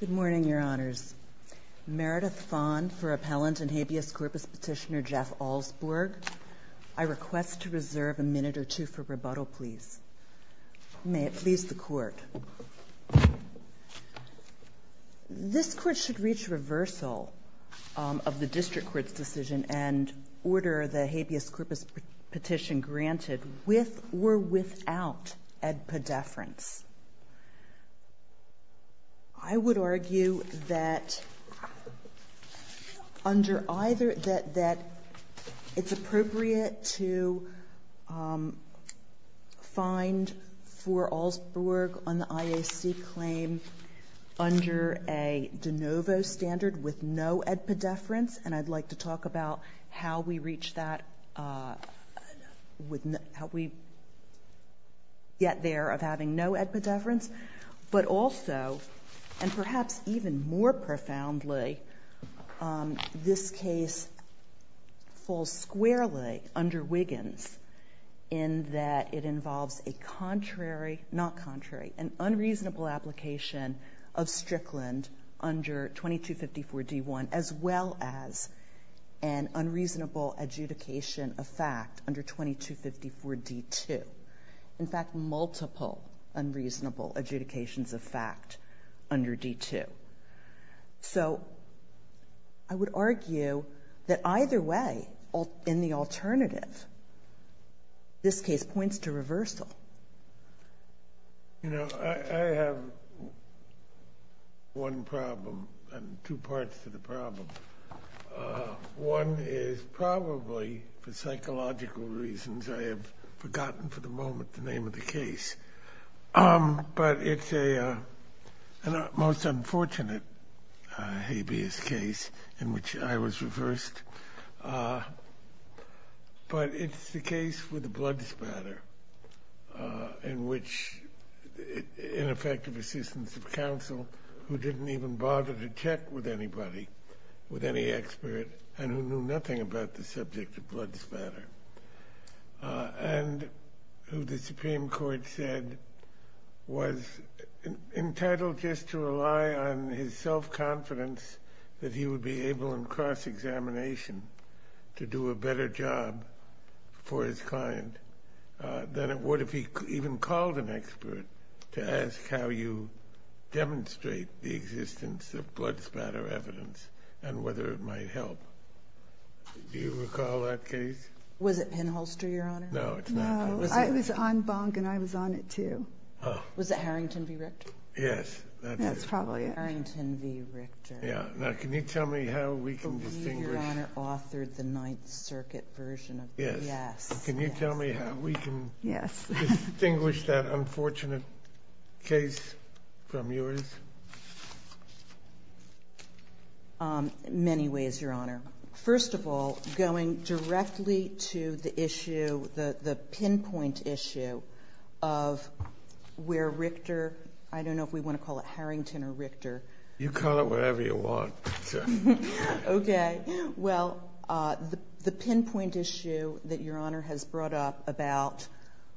Good morning, Your Honors. Meredith Fond for Appellant and habeas corpus petitioner Jeff Alsborg. I request to reserve a minute or two for rebuttal, please. May it please the Court. This Court should reach reversal of the District Court's decision and order the petition granted with or without edpedeference. I would argue that it's appropriate to find for Alsborg on the IAC claim under a de novo standard with no edpedeference, and I'd like to talk about how we reach that, how we get there of having no edpedeference, but also, and perhaps even more profoundly, this case falls squarely under Wiggins in that it involves a contrary, not contrary, an unreasonable application of Strickland under 2254 D-1, as well as an unreasonable adjudication of fact under 2254 D-2. In fact, multiple unreasonable adjudications of fact under D-2. So, I would argue that either way, in the alternative, this case points to reversal. You know, I have one problem and two parts to the problem. One is probably, for psychological reasons, I have forgotten for the moment the name of the case, but it's a most unfortunate habeas case in which I was reversed, but it's the case with the blood spatter in which ineffective assistance of counsel who didn't even bother to check with anybody, with any expert, and who knew nothing about the subject of blood spatter, and who the was entitled just to rely on his self-confidence that he would be able in cross-examination to do a better job for his client than it would if he even called an expert to ask how you demonstrate the existence of blood spatter evidence and whether it might help. Do you recall that case? Was it Penholster, Your Honor? No, it's not. I was on Bonk and I was on it too. Was it Harrington v. Richter? Yes. That's probably it. Harrington v. Richter. Yeah. Now, can you tell me how we can distinguish... The way Your Honor authored the Ninth Circuit version of this. Yes. Can you tell me how we can... Yes. distinguish that unfortunate case from yours? Many ways, Your Honor. First of all, going directly to the issue, the pinpoint issue of where Richter... I don't know if we want to call it Harrington or Richter. You call it whatever you want. Okay. Well, the pinpoint issue that Your Honor has brought up about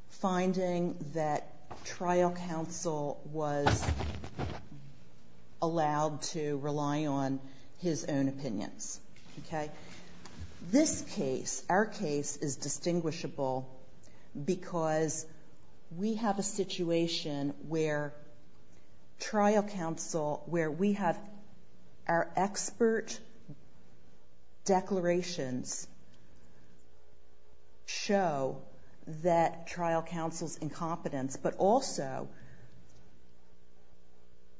finding that trial counsel was allowed to rely on his own opinions. Okay. This case, our case, is distinguishable because we have a situation where trial counsel, where we have our expert declarations show that trial counsel's incompetence. But also,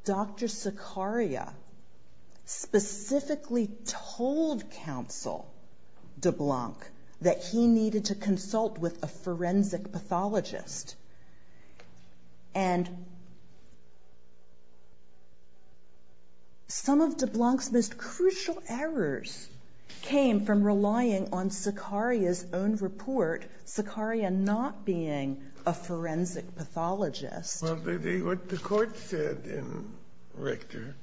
Dr. Sicaria specifically told counsel DeBlanc that he needed to consult with a forensic pathologist. And some of DeBlanc's most crucial errors came from relying on Sicaria's own report, Sicaria not being a forensic pathologist. Well, what the court said in Richter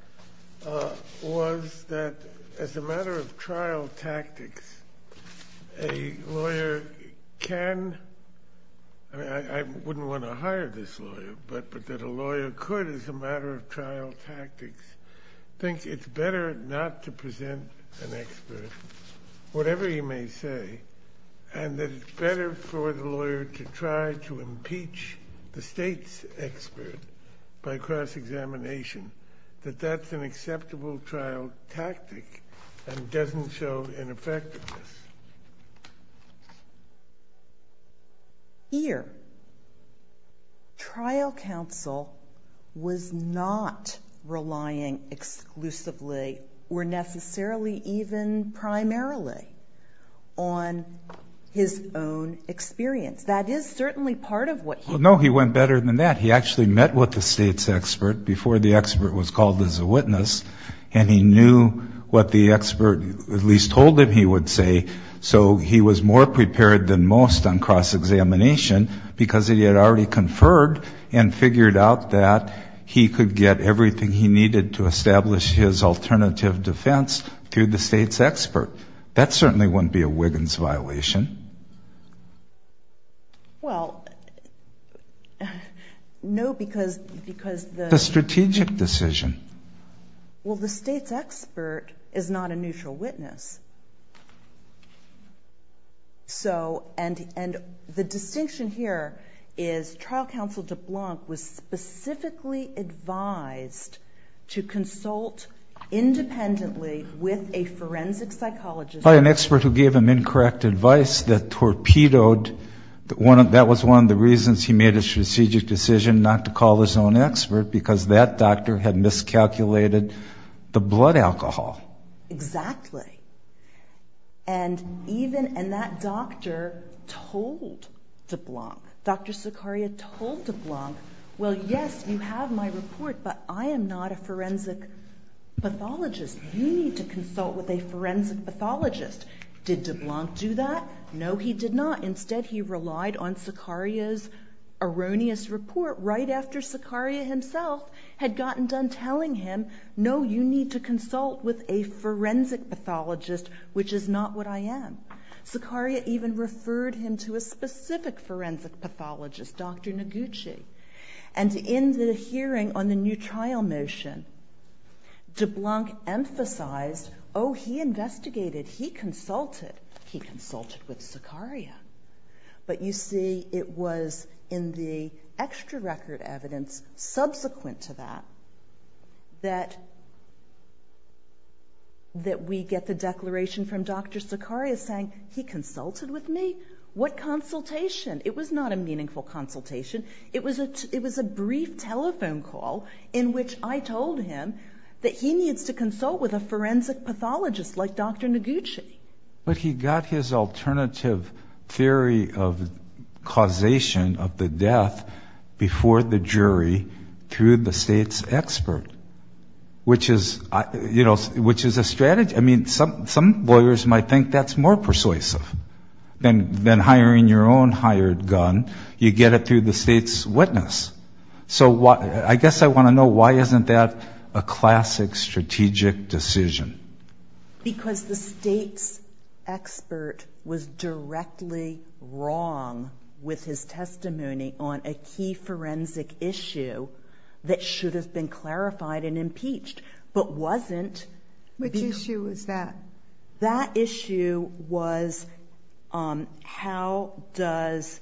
was that as a matter of trial tactics, a lawyer can... I mean, I'm not sure if that's the right word, but a lawyer can I wouldn't want to hire this lawyer, but that a lawyer could, as a matter of trial tactics, think it's better not to present an expert, whatever he may say, and that it's better for the lawyer to try to impeach the state's expert by cross-examination, that that's an acceptable trial tactic and doesn't show ineffectiveness. Here, trial counsel was not relying exclusively or necessarily even primarily on his own experience. That is certainly part of what he... So he was more prepared than most on cross-examination because he had already conferred and figured out that he could get everything he needed to establish his alternative defense through the state's expert. That certainly wouldn't be a Wiggins violation. Well, no, because... The strategic decision. Well, the state's expert is not a neutral witness. So, and the distinction here is trial counsel DeBlanc was specifically advised to consult independently with a forensic psychologist... He had an expert who gave him incorrect advice that torpedoed... That was one of the reasons he made a strategic decision not to call his own expert because that doctor had miscalculated the blood alcohol. Exactly. And even... And that doctor told DeBlanc, Dr. Sicaria told DeBlanc, well, yes, you have my report, but I am not a forensic pathologist. You need to consult with a forensic pathologist. Did DeBlanc do that? No, he did not. Instead, he relied on Sicaria's erroneous report right after Sicaria himself had gotten done telling him, no, you need to consult with a forensic pathologist, which is not what I am. Sicaria even referred him to a specific forensic pathologist, Dr. Noguchi. And in the hearing on the new trial motion, DeBlanc emphasized, oh, he investigated, he consulted, he consulted with Sicaria. But you see, it was in the extra record evidence subsequent to that, that we get the declaration from Dr. Sicaria saying, he consulted with me. What consultation? It was not a meaningful consultation. It was a brief telephone call in which I told him that he needs to consult with a forensic pathologist like Dr. Noguchi. But he got his alternative theory of causation of the death before the jury through the state's expert, which is a strategy. I mean, some lawyers might think that's more persuasive than hiring your own hired gun. You get it through the state's witness. So I guess I want to know, why isn't that a classic strategic decision? Because the state's expert was directly wrong with his testimony on a key forensic issue that should have been clarified and impeached, but wasn't. Which issue was that? And that issue was, how does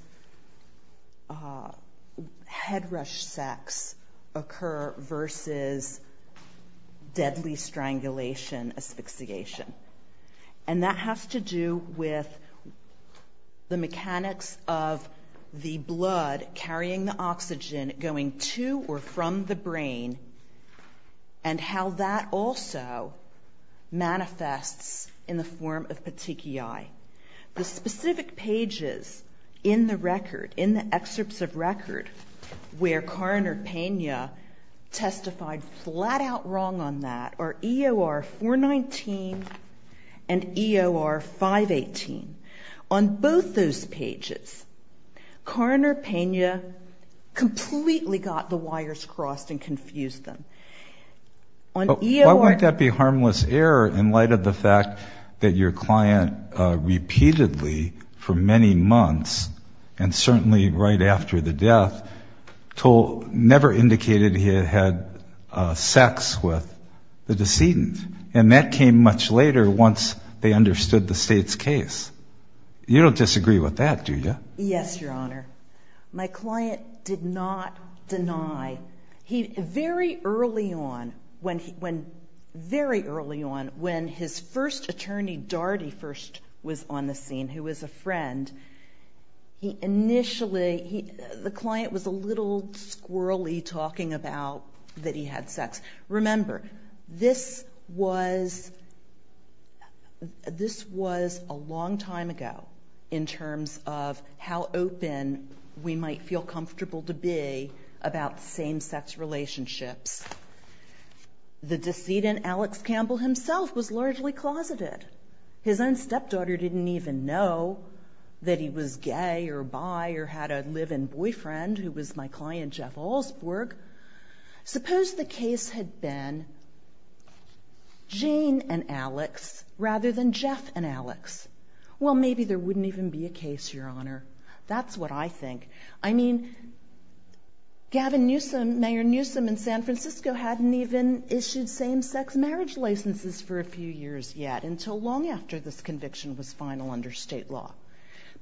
head rush sex occur versus deadly strangulation asphyxiation? And that has to do with the mechanics of the blood carrying the oxygen going to or from the brain, and how that also manifests in the form of petechiae. The specific pages in the record, in the excerpts of record, where Karn or Pena testified flat out wrong on that are EOR 419 and EOR 518. On both those pages, Karn or Pena completely got the wires crossed and confused them. Why wouldn't that be harmless error in light of the fact that your client repeatedly, for many months, and certainly right after the death, never indicated he had had sex with the decedent? And that came much later once they understood the state's case. You don't disagree with that, do you? Yes, Your Honor. My client did not deny. Very early on, when his first attorney, Dougherty, first was on the scene, who was a friend, the client was a little squirrely talking about that he had sex. Remember, this was a long time ago in terms of how open we might feel comfortable to be about same-sex relationships. The decedent, Alex Campbell himself, was largely closeted. His own stepdaughter didn't even know that he was gay or bi or had a live-in boyfriend who was my client, Jeff Alsburg. Suppose the case had been Jane and Alex rather than Jeff and Alex. Well, maybe there wouldn't even be a case, Your Honor. That's what I think. I mean, Gavin Newsom, Mayor Newsom in San Francisco hadn't even issued same-sex marriage licenses for a few years yet until long after this conviction was final under state law.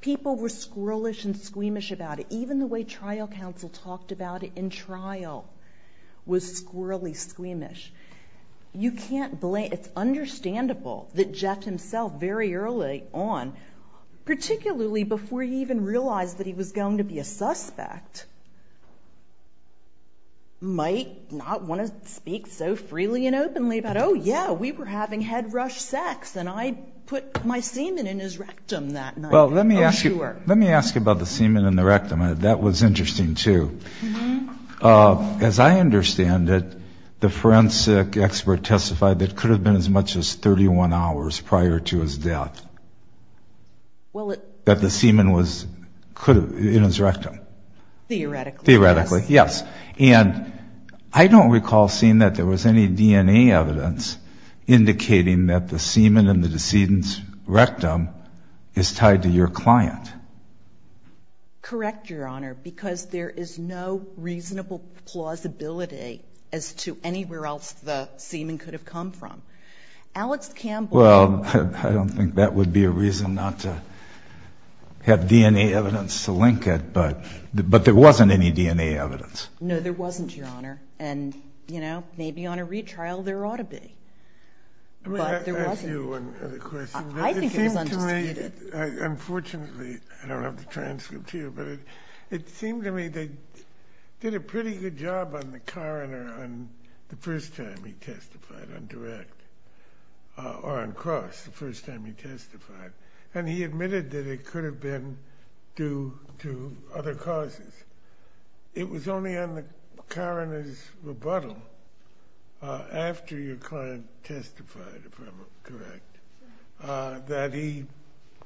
People were squirrelish and squeamish about it. Even the way trial counsel talked about it in trial was squirrelly squeamish. You can't blame – it's understandable that Jeff himself very early on, particularly before he even realized that he was going to be a suspect, might not want to speak so freely and openly about, oh, yeah, we were having head rush sex and I put my semen in his rectum that night. Well, let me ask you about the semen in the rectum. That was interesting, too. As I understand it, the forensic expert testified that it could have been as much as 31 hours prior to his death that the semen was in his rectum. Theoretically, yes. And I don't recall seeing that there was any DNA evidence indicating that the semen in the decedent's rectum is tied to your client. Correct, Your Honor, because there is no reasonable plausibility as to anywhere else the semen could have come from. Alex Campbell – I don't think that would be a reason not to have DNA evidence to link it, but there wasn't any DNA evidence. No, there wasn't, Your Honor. And, you know, maybe on a retrial there ought to be, but there wasn't. Unfortunately, I don't have the transcript here, but it seemed to me they did a pretty good job on the coroner the first time he testified on direct, or on cross the first time he testified, and he admitted that it could have been due to other causes. It was only on the coroner's rebuttal after your client testified, if I'm correct, that he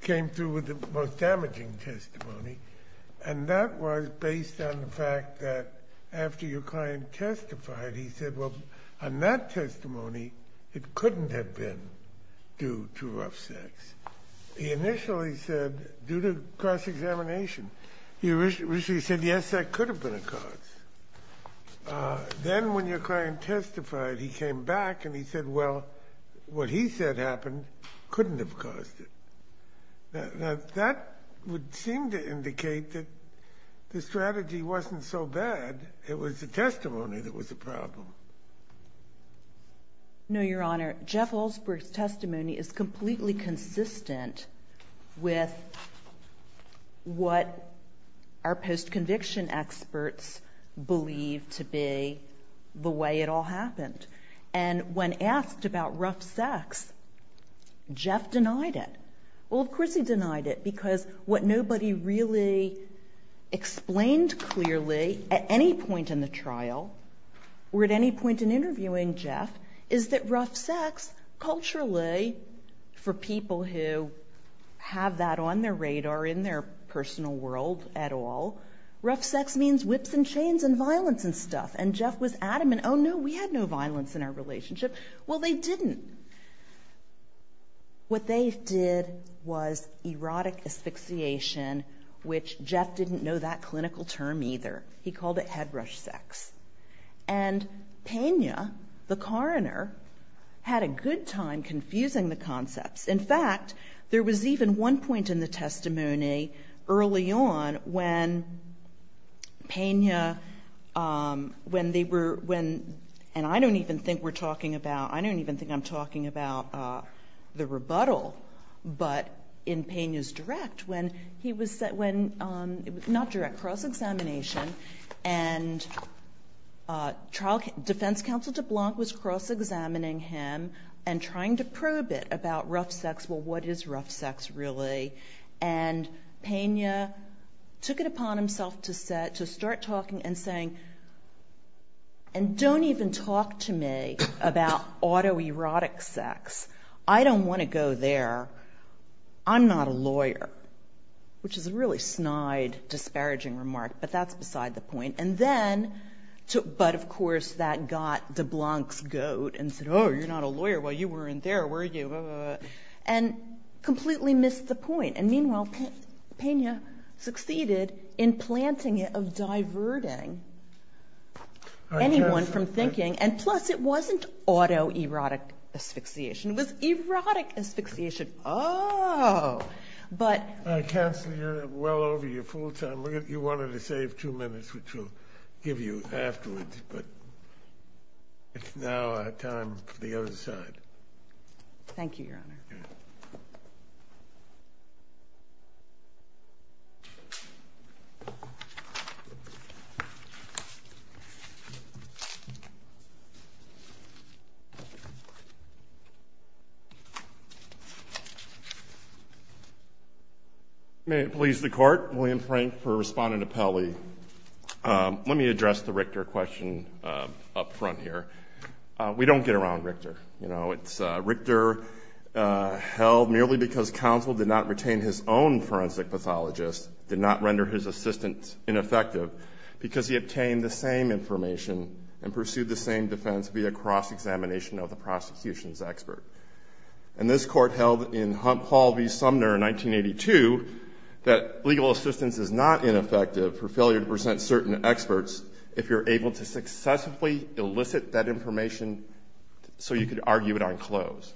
came through with the most damaging testimony, and that was based on the fact that after your client testified, he said, well, on that testimony, it couldn't have been due to rough sex. He initially said, due to cross-examination, he originally said, yes, that could have been a cause. Then when your client testified, he came back and he said, well, what he said happened couldn't have caused it. Now, that would seem to indicate that the strategy wasn't so bad, it was the testimony that was the problem. No, Your Honor. Jeff Oldsberg's testimony is completely consistent with what our post-conviction experts believe to be the way it all happened. And when asked about rough sex, Jeff denied it. Well, of course he denied it, because what nobody really explained clearly at any point in the trial or at any point in interviewing Jeff is that rough sex, culturally, for people who have that on their radar in their personal world at all, rough sex means whips and chains and violence and stuff. And Jeff was adamant, oh, no, we had no violence in our relationship. Well, they didn't. What they did was erotic asphyxiation, which Jeff didn't know that clinical term either. He called it head rush sex. And Pena, the coroner, had a good time confusing the concepts. In fact, there was even one point in the testimony early on when Pena, when they were, when, and I don't even think we're talking about, I don't even think I'm talking about the rebuttal, but in Pena's direct, when he was, not direct, cross-examination, and defense counsel DeBlanc was cross-examining him and trying to prove it about rough sex. Well, what is rough sex, really? And Pena took it upon himself to start talking and saying, and don't even talk to me about autoerotic sex. I don't want to go there. I'm not a lawyer, which is a really snide, disparaging remark, but that's beside the point. And then, but of course that got DeBlanc's goat and said, oh, you're not a lawyer. Well, you weren't there, were you? And completely missed the point. And meanwhile, Pena succeeded in planting it of diverting anyone from thinking, and plus it wasn't autoerotic asphyxiation. It was erotic asphyxiation. Oh, but. Counselor, you're well over your full time. You wanted to save two minutes, which we'll give you afterwards, but it's now time for the other side. Thank you, Your Honor. May it please the Court. William Frank for Respondent Apelli. Let me address the Richter question up front here. We don't get around Richter. You know, it's Richter held merely because counsel did not retain his own forensic pathologist, did not render his assistance ineffective because he obtained the same information and pursued the same defense via cross-examination of the prosecution's expert. And this Court held in Hump Hall v. Sumner in 1982 that legal assistance is not ineffective for failure to present certain experts if you're able to successfully elicit that information so you could argue it on close.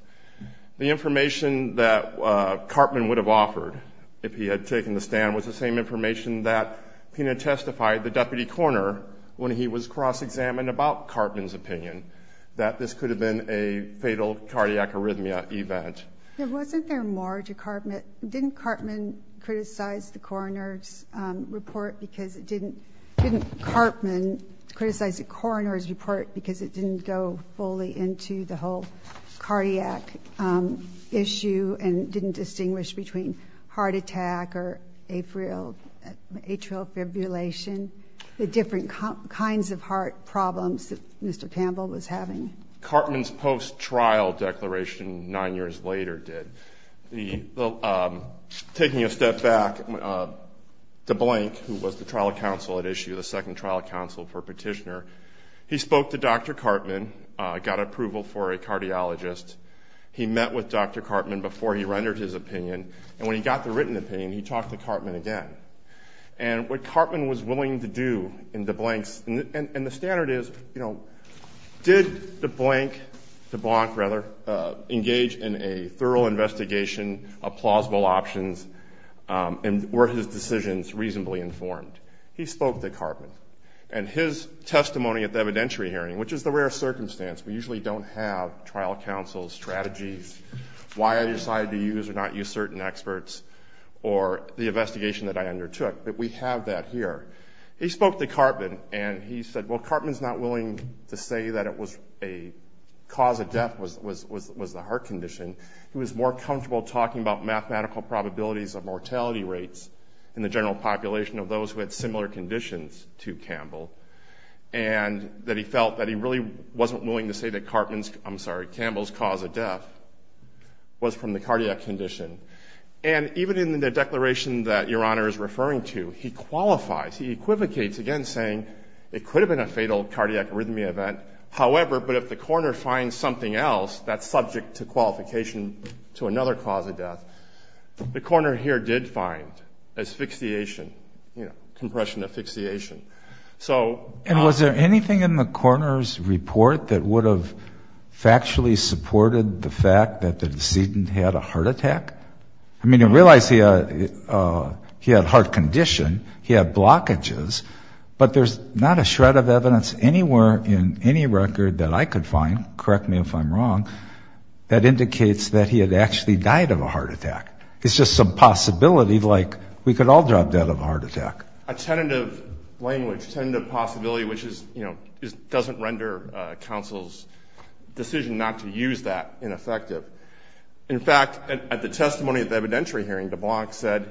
The information that Cartman would have offered if he had taken the stand was the same information that Pena testified, the deputy coroner, when he was cross-examined about Cartman's opinion, that this could have been a fatal cardiac arrhythmia event. Wasn't there more to Cartman? Didn't Cartman criticize the coroner's report because it didn't go fully into the whole cardiac issue and didn't distinguish between heart attack or atrial fibrillation, the different kinds of heart problems that Mr. Campbell was having? The Cartman's post-trial declaration nine years later did. Taking a step back, DeBlank, who was the trial counsel at issue, the second trial counsel for Petitioner, he spoke to Dr. Cartman, got approval for a cardiologist. He met with Dr. Cartman before he rendered his opinion, and when he got the written opinion, he talked to Cartman again. And what Cartman was willing to do in DeBlank's – DeBlank, rather, engage in a thorough investigation of plausible options and were his decisions reasonably informed. He spoke to Cartman, and his testimony at the evidentiary hearing, which is the rare circumstance. We usually don't have trial counsel's strategies, why I decided to use or not use certain experts, or the investigation that I undertook, but we have that here. He spoke to Cartman, and he said, well, Cartman's not willing to say that it was a cause of death was the heart condition. He was more comfortable talking about mathematical probabilities of mortality rates in the general population of those who had similar conditions to Campbell, and that he felt that he really wasn't willing to say that Cartman's – I'm sorry, Campbell's cause of death was from the cardiac condition. And even in the declaration that Your Honor is referring to, he qualifies, he equivocates again saying it could have been a fatal cardiac arrhythmia event. However, but if the coroner finds something else that's subject to qualification to another cause of death, the coroner here did find asphyxiation, you know, compression asphyxiation. So – And was there anything in the coroner's report that would have factually supported the fact that the decedent had a heart attack? I mean, to realize he had heart condition, he had blockages, but there's not a shred of evidence anywhere in any record that I could find, correct me if I'm wrong, that indicates that he had actually died of a heart attack. It's just some possibility, like we could all drop dead of a heart attack. A tentative language, tentative possibility, which is, you know, doesn't render counsel's decision not to use that ineffective. In fact, at the testimony at the evidentiary hearing, DeBlanc said,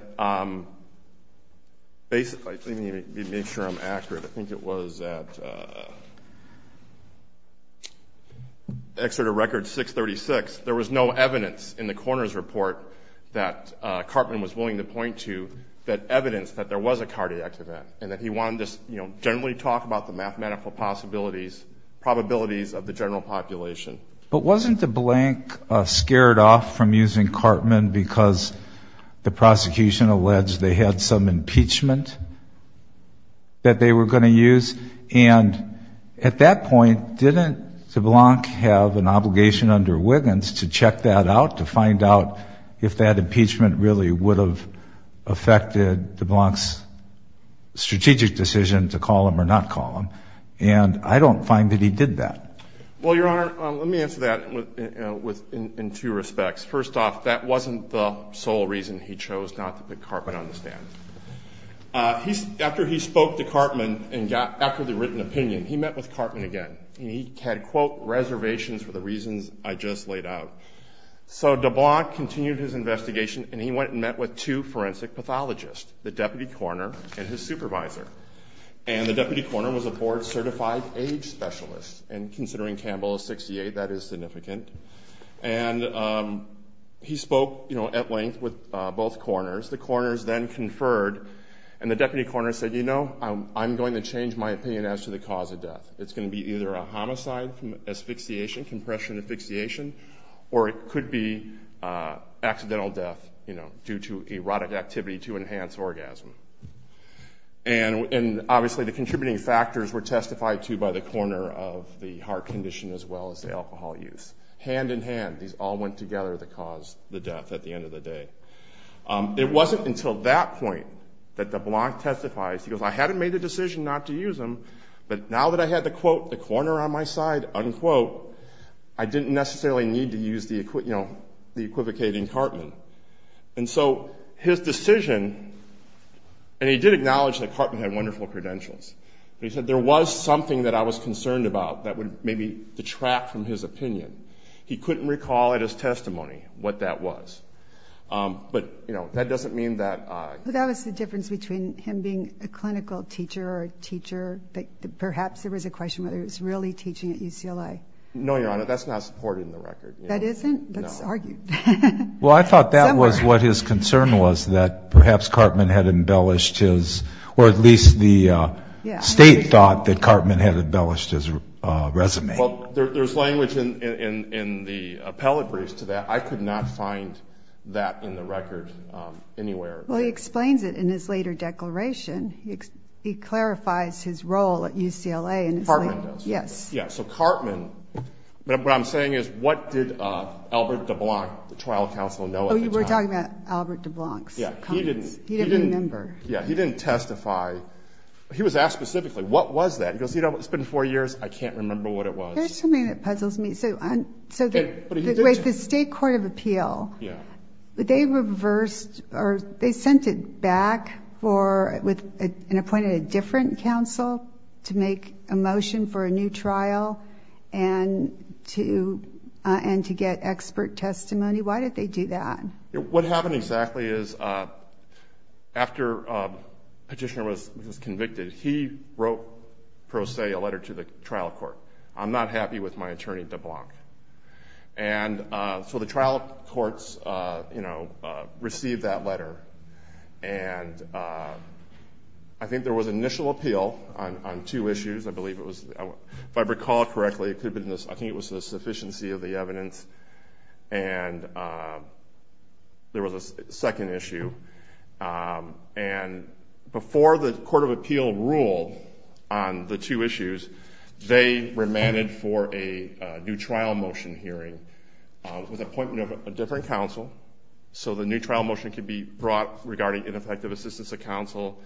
basically, to make sure I'm accurate, I think it was at Exeter Record 636, there was no evidence in the coroner's report that Carpman was willing to point to that evidenced that there was a cardiac event and that he wanted to generally talk about the mathematical possibilities, probabilities of the general population. But wasn't DeBlanc scared off from using Carpman because the prosecution alleged they had some impeachment that they were going to use? And at that point, didn't DeBlanc have an obligation under Wiggins to check that out, to find out if that impeachment really would have affected DeBlanc's strategic decision to call him or not call him? And I don't find that he did that. Well, Your Honor, let me answer that in two respects. First off, that wasn't the sole reason he chose not to put Carpman on the stand. After he spoke to Carpman and got accurately written opinion, he met with Carpman again. He had, quote, reservations for the reasons I just laid out. So DeBlanc continued his investigation, and he went and met with two forensic pathologists, the deputy coroner and his supervisor. And the deputy coroner was a board-certified age specialist, and considering Campbell is 68, that is significant. And he spoke at length with both coroners. The coroners then conferred, and the deputy coroner said, you know, I'm going to change my opinion as to the cause of death. It's going to be either a homicide asphyxiation, compression asphyxiation, or it could be accidental death due to erotic activity to enhance orgasm. And obviously the contributing factors were testified to by the coroner of the heart condition as well as the alcohol use. Hand in hand, these all went together to cause the death at the end of the day. It wasn't until that point that DeBlanc testifies. He goes, I hadn't made a decision not to use him, but now that I had the, quote, the coroner on my side, unquote, I didn't necessarily need to use the equivocating Cartman. And so his decision, and he did acknowledge that Cartman had wonderful credentials, but he said there was something that I was concerned about that would maybe detract from his opinion. He couldn't recall at his testimony what that was. But, you know, that doesn't mean that I... Perhaps there was a question whether he was really teaching at UCLA. No, Your Honor, that's not supported in the record. That isn't? That's argued. Well, I thought that was what his concern was, that perhaps Cartman had embellished his, or at least the state thought that Cartman had embellished his resume. Well, there's language in the appellate briefs to that. I could not find that in the record anywhere. Well, he explains it in his later declaration. He clarifies his role at UCLA. Cartman does? Yes. Yeah, so Cartman... What I'm saying is what did Albert de Blanc, the trial counsel, know at the time? Oh, you were talking about Albert de Blanc's comments. Yeah, he didn't... He didn't remember. Yeah, he didn't testify. He was asked specifically, what was that? He goes, you know, it's been four years, I can't remember what it was. There's something that puzzles me. Wait, the state court of appeal... Yeah. They reversed, or they sent it back for, and appointed a different counsel to make a motion for a new trial and to get expert testimony? Why did they do that? What happened exactly is after Petitioner was convicted, he wrote, per se, a letter to the trial court. I'm not happy with my attorney, de Blanc. And so the trial courts received that letter, and I think there was initial appeal on two issues. I believe it was, if I recall correctly, I think it was the sufficiency of the evidence, and there was a second issue. And before the court of appeal ruled on the two issues, they remanded for a new trial motion hearing with appointment of a different counsel. So the new trial motion could be brought regarding ineffective assistance of counsel,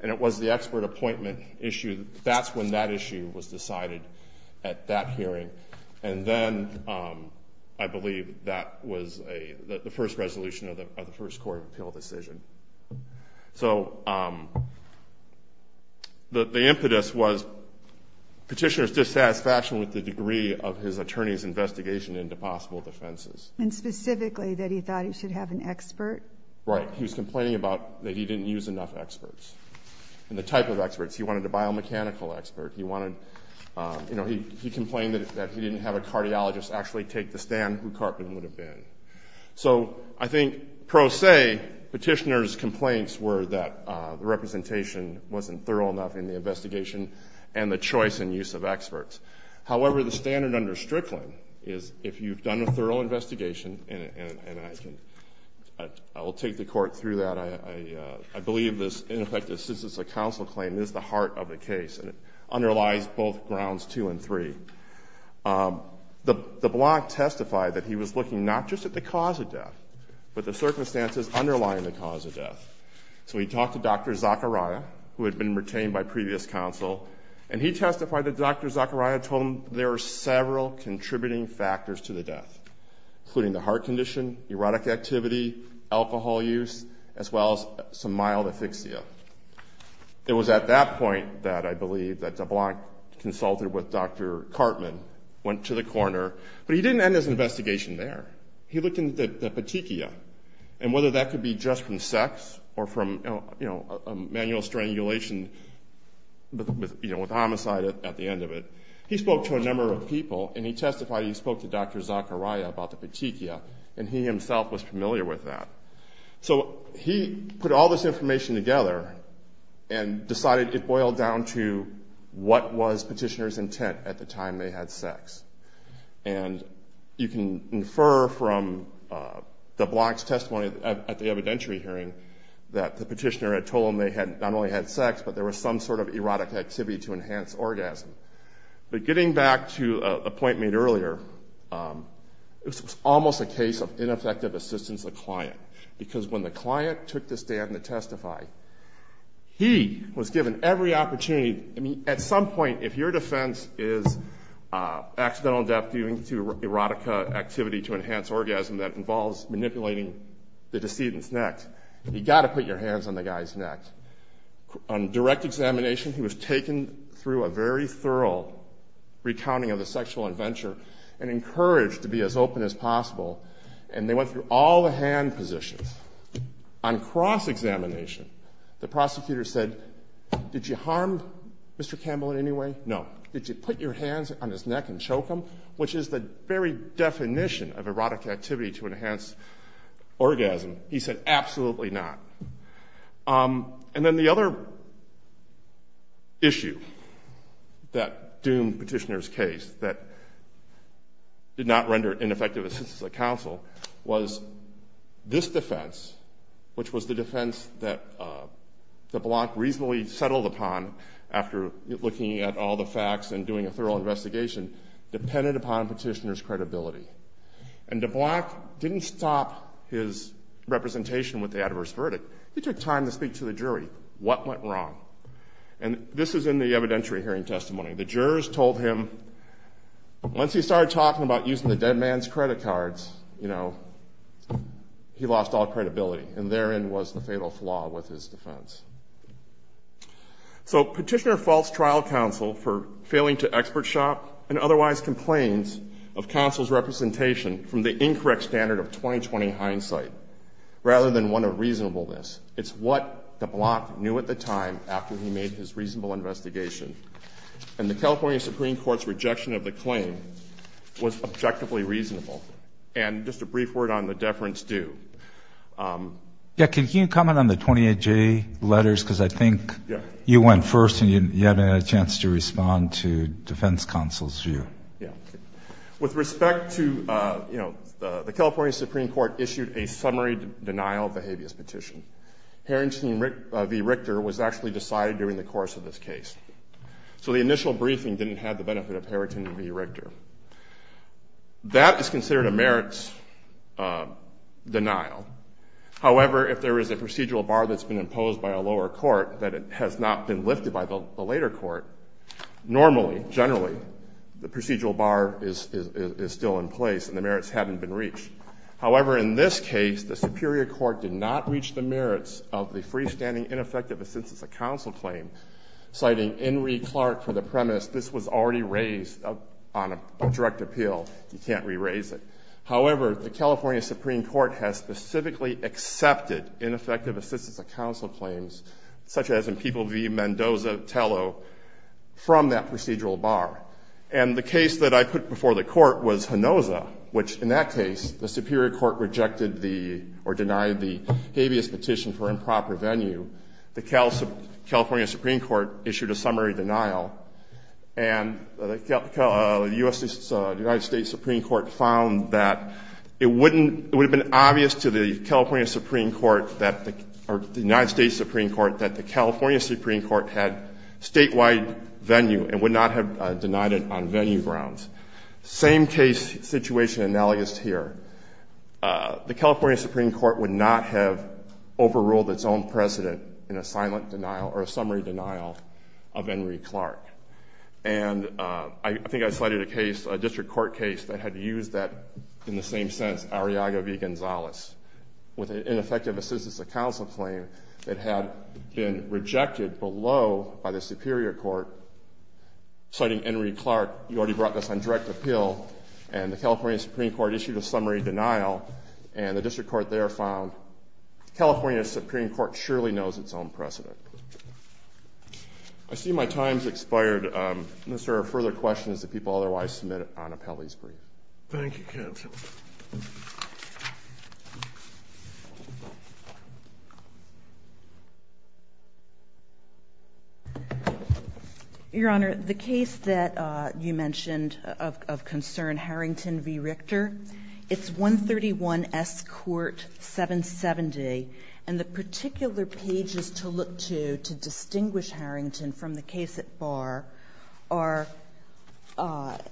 and it was the expert appointment issue. That's when that issue was decided at that hearing. And then I believe that was the first resolution of the first court of appeal decision. So the impetus was Petitioner's dissatisfaction with the degree of his attorney's investigation into possible defenses. And specifically that he thought he should have an expert? Right. He was complaining about that he didn't use enough experts, and the type of experts. He wanted a biomechanical expert. You know, he complained that if he didn't have a cardiologist actually take the stand, who would have been? So I think pro se, Petitioner's complaints were that the representation wasn't thorough enough in the investigation and the choice and use of experts. However, the standard under Strickland is if you've done a thorough investigation, and I will take the court through that, I believe this ineffective assistance of counsel claim is the heart of the case. And it underlies both grounds two and three. The block testified that he was looking not just at the cause of death, but the circumstances underlying the cause of death. So he talked to Dr. Zakaria, who had been retained by previous counsel, and he testified that Dr. Zakaria told him there were several contributing factors to the death, including the heart condition, erotic activity, alcohol use, as well as some mild asphyxia. It was at that point that I believe that DeBlanc consulted with Dr. Cartman, went to the coroner, but he didn't end his investigation there. He looked into the petechia, and whether that could be just from sex or from manual strangulation with homicide at the end of it. He spoke to a number of people, and he testified he spoke to Dr. Zakaria about the petechia, and he himself was familiar with that. So he put all this information together and decided it boiled down to what was petitioner's intent at the time they had sex. And you can infer from DeBlanc's testimony at the evidentiary hearing that the petitioner had told him they had not only had sex, but there was some sort of erotic activity to enhance orgasm. But getting back to a point made earlier, this was almost a case of ineffective assistance of the client, because when the client took the stand to testify, he was given every opportunity. I mean, at some point, if your defense is accidental death due to erotica activity to enhance orgasm that involves manipulating the decedent's neck, you've got to put your hands on the guy's neck. On direct examination, he was taken through a very thorough recounting of the sexual adventure and encouraged to be as open as possible, and they went through all the hand positions. On cross-examination, the prosecutor said, did you harm Mr. Campbell in any way? No. Did you put your hands on his neck and choke him, which is the very definition of erotic activity to enhance orgasm? He said, absolutely not. And then the other issue that doomed Petitioner's case, that did not render ineffective assistance of counsel, was this defense, which was the defense that de Blanc reasonably settled upon after looking at all the facts and doing a thorough investigation, depended upon Petitioner's credibility. And de Blanc didn't stop his representation with the adverse verdict. He took time to speak to the jury. What went wrong? And this is in the evidentiary hearing testimony. The jurors told him once he started talking about using the dead man's credit cards, you know, he lost all credibility. And therein was the fatal flaw with his defense. So Petitioner faults trial counsel for failing to expert shop and otherwise complains of counsel's representation from the incorrect standard of 2020 hindsight rather than one of reasonableness. It's what de Blanc knew at the time after he made his reasonable investigation. And the California Supreme Court's rejection of the claim was objectively reasonable. And just a brief word on the deference due. Yeah, can you comment on the 28-J letters? Because I think you went first and you haven't had a chance to respond to defense counsel's view. Yeah. With respect to, you know, the California Supreme Court issued a summary denial of the habeas petition. Harrington v. Richter was actually decided during the course of this case. So the initial briefing didn't have the benefit of Harrington v. Richter. That is considered a merits denial. However, if there is a procedural bar that's been imposed by a lower court that has not been lifted by the later court, normally, generally, the procedural bar is still in place and the merits haven't been reached. However, in this case, the superior court did not reach the merits of the freestanding ineffective assent as a counsel claim, citing Henry Clark for the premise this was already raised on a direct appeal. You can't re-raise it. However, the California Supreme Court has specifically accepted ineffective assistance of counsel claims, such as in People v. Mendoza Tello, from that procedural bar. And the case that I put before the court was Hinoza, which, in that case, the superior court rejected the or denied the habeas petition for improper venue. The California Supreme Court issued a summary denial, and the United States Supreme Court found that it would have been obvious to the California Supreme Court or the United States Supreme Court that the California Supreme Court had statewide venue and would not have denied it on venue grounds. Same case situation analogous here. The California Supreme Court would not have overruled its own precedent in a silent denial or a summary denial of Henry Clark. And I think I cited a case, a district court case, that had used that in the same sense, Arriaga v. Gonzalez, with an ineffective assistance of counsel claim that had been rejected below by the superior court, citing Henry Clark. You already brought this on direct appeal. And the California Supreme Court issued a summary denial, and the district court there found the California Supreme Court surely knows its own precedent. I see my time has expired. Unless there are further questions, the people otherwise submit on appellee's brief. Thank you, counsel. Your Honor, the case that you mentioned of concern, Harrington v. Richter, it's 131 S. Court 770. And the particular pages to look to to distinguish Harrington from the case at Bar are 770.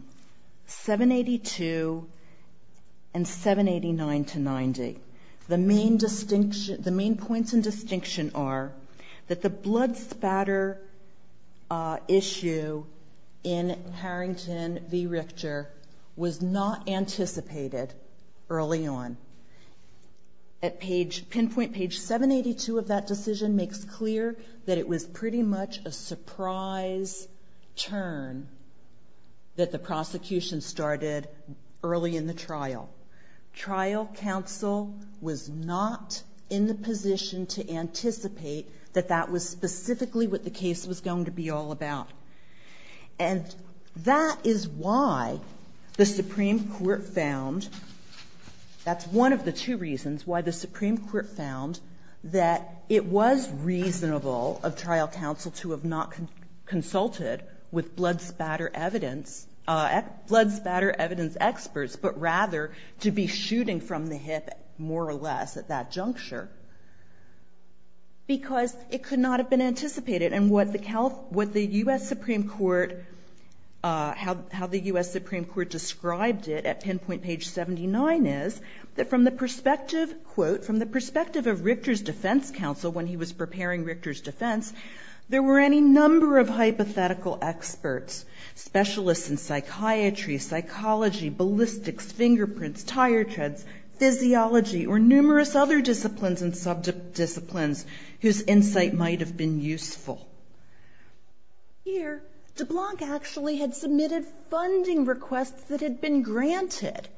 Page 782 and 789 to 90. The main points in distinction are that the blood spatter issue in Harrington v. Richter was not anticipated early on. Pinpoint page 782 of that decision makes clear that it was pretty much a surprise turn that the prosecution started early in the trial. Trial counsel was not in the position to anticipate that that was specifically what the case was going to be all about. And that is why the Supreme Court found, that's one of the two reasons why the Supreme Court found that it was reasonable of trial counsel to have not consulted with blood spatter evidence, blood spatter evidence experts, but rather to be shooting from the hip, more or less, at that juncture. Because it could not have been anticipated. And what the U.S. Supreme Court, how the U.S. Supreme Court described it at pinpoint page 79 is that from the perspective, quote, from the perspective of Richter's defense counsel when he was preparing Richter's defense, there were any number of hypothetical experts, specialists in psychiatry, psychology, ballistics, fingerprints, tire treads, physiology, or numerous other disciplines and sub-disciplines whose insight might have been useful. Here, de Blanc actually had submitted funding requests that had been granted.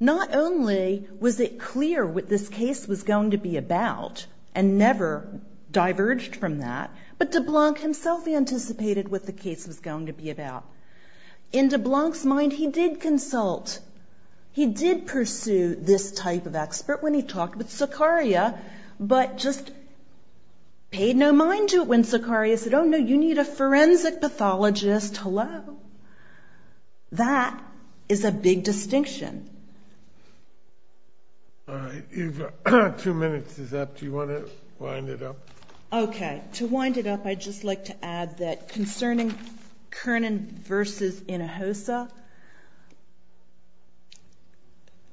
Not only was it clear what this case was going to be about and never diverged from that, but de Blanc himself anticipated what the case was going to be about. In de Blanc's mind, he did consult. He did pursue this type of expert when he talked with Zuccaria, but just paid no mind to it when Zuccaria said, oh, no, you need a forensic pathologist, hello. That is a big distinction. All right. You've got two minutes is up. Do you want to wind it up? Okay. To wind it up, I'd just like to add that concerning Kernan v. Inhofe,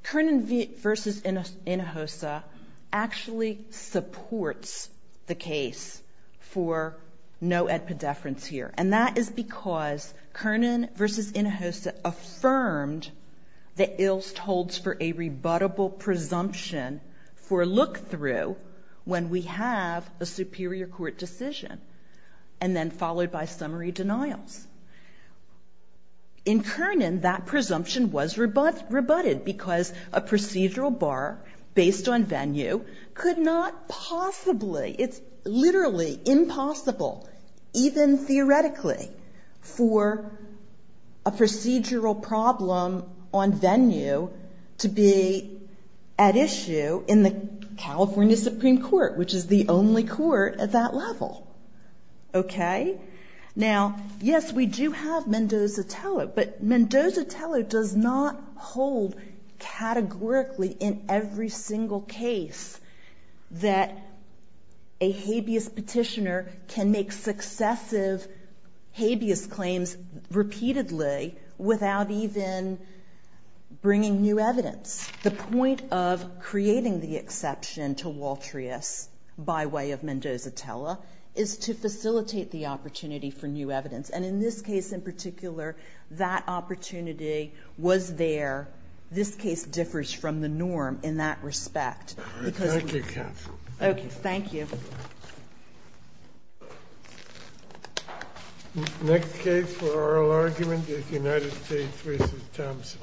Kernan v. Inhofe actually supports the case for no-ed pediferance here, and that is because Kernan v. Inhofe affirmed that Ilst holds for a rebuttable presumption for look-through when we have a superior court decision, and then followed by summary denials. In Kernan, that presumption was rebutted because a procedural bar based on venue could not possibly, it's literally impossible, even theoretically, for a procedural problem on venue to be at issue in the California Supreme Court, which is the only court at that level. Okay? Now, yes, we do have Mendoza-Teller, but Mendoza-Teller does not hold categorically in every single case that a habeas petitioner can make successive habeas claims repeatedly without even bringing new evidence. The point of creating the exception to Waltrius by way of Mendoza-Teller is to facilitate the opportunity for new evidence, and in this case in particular, that opportunity was there. This case differs from the norm in that respect. Thank you, counsel. Thank you. Next case for oral argument is United States v. Thompson.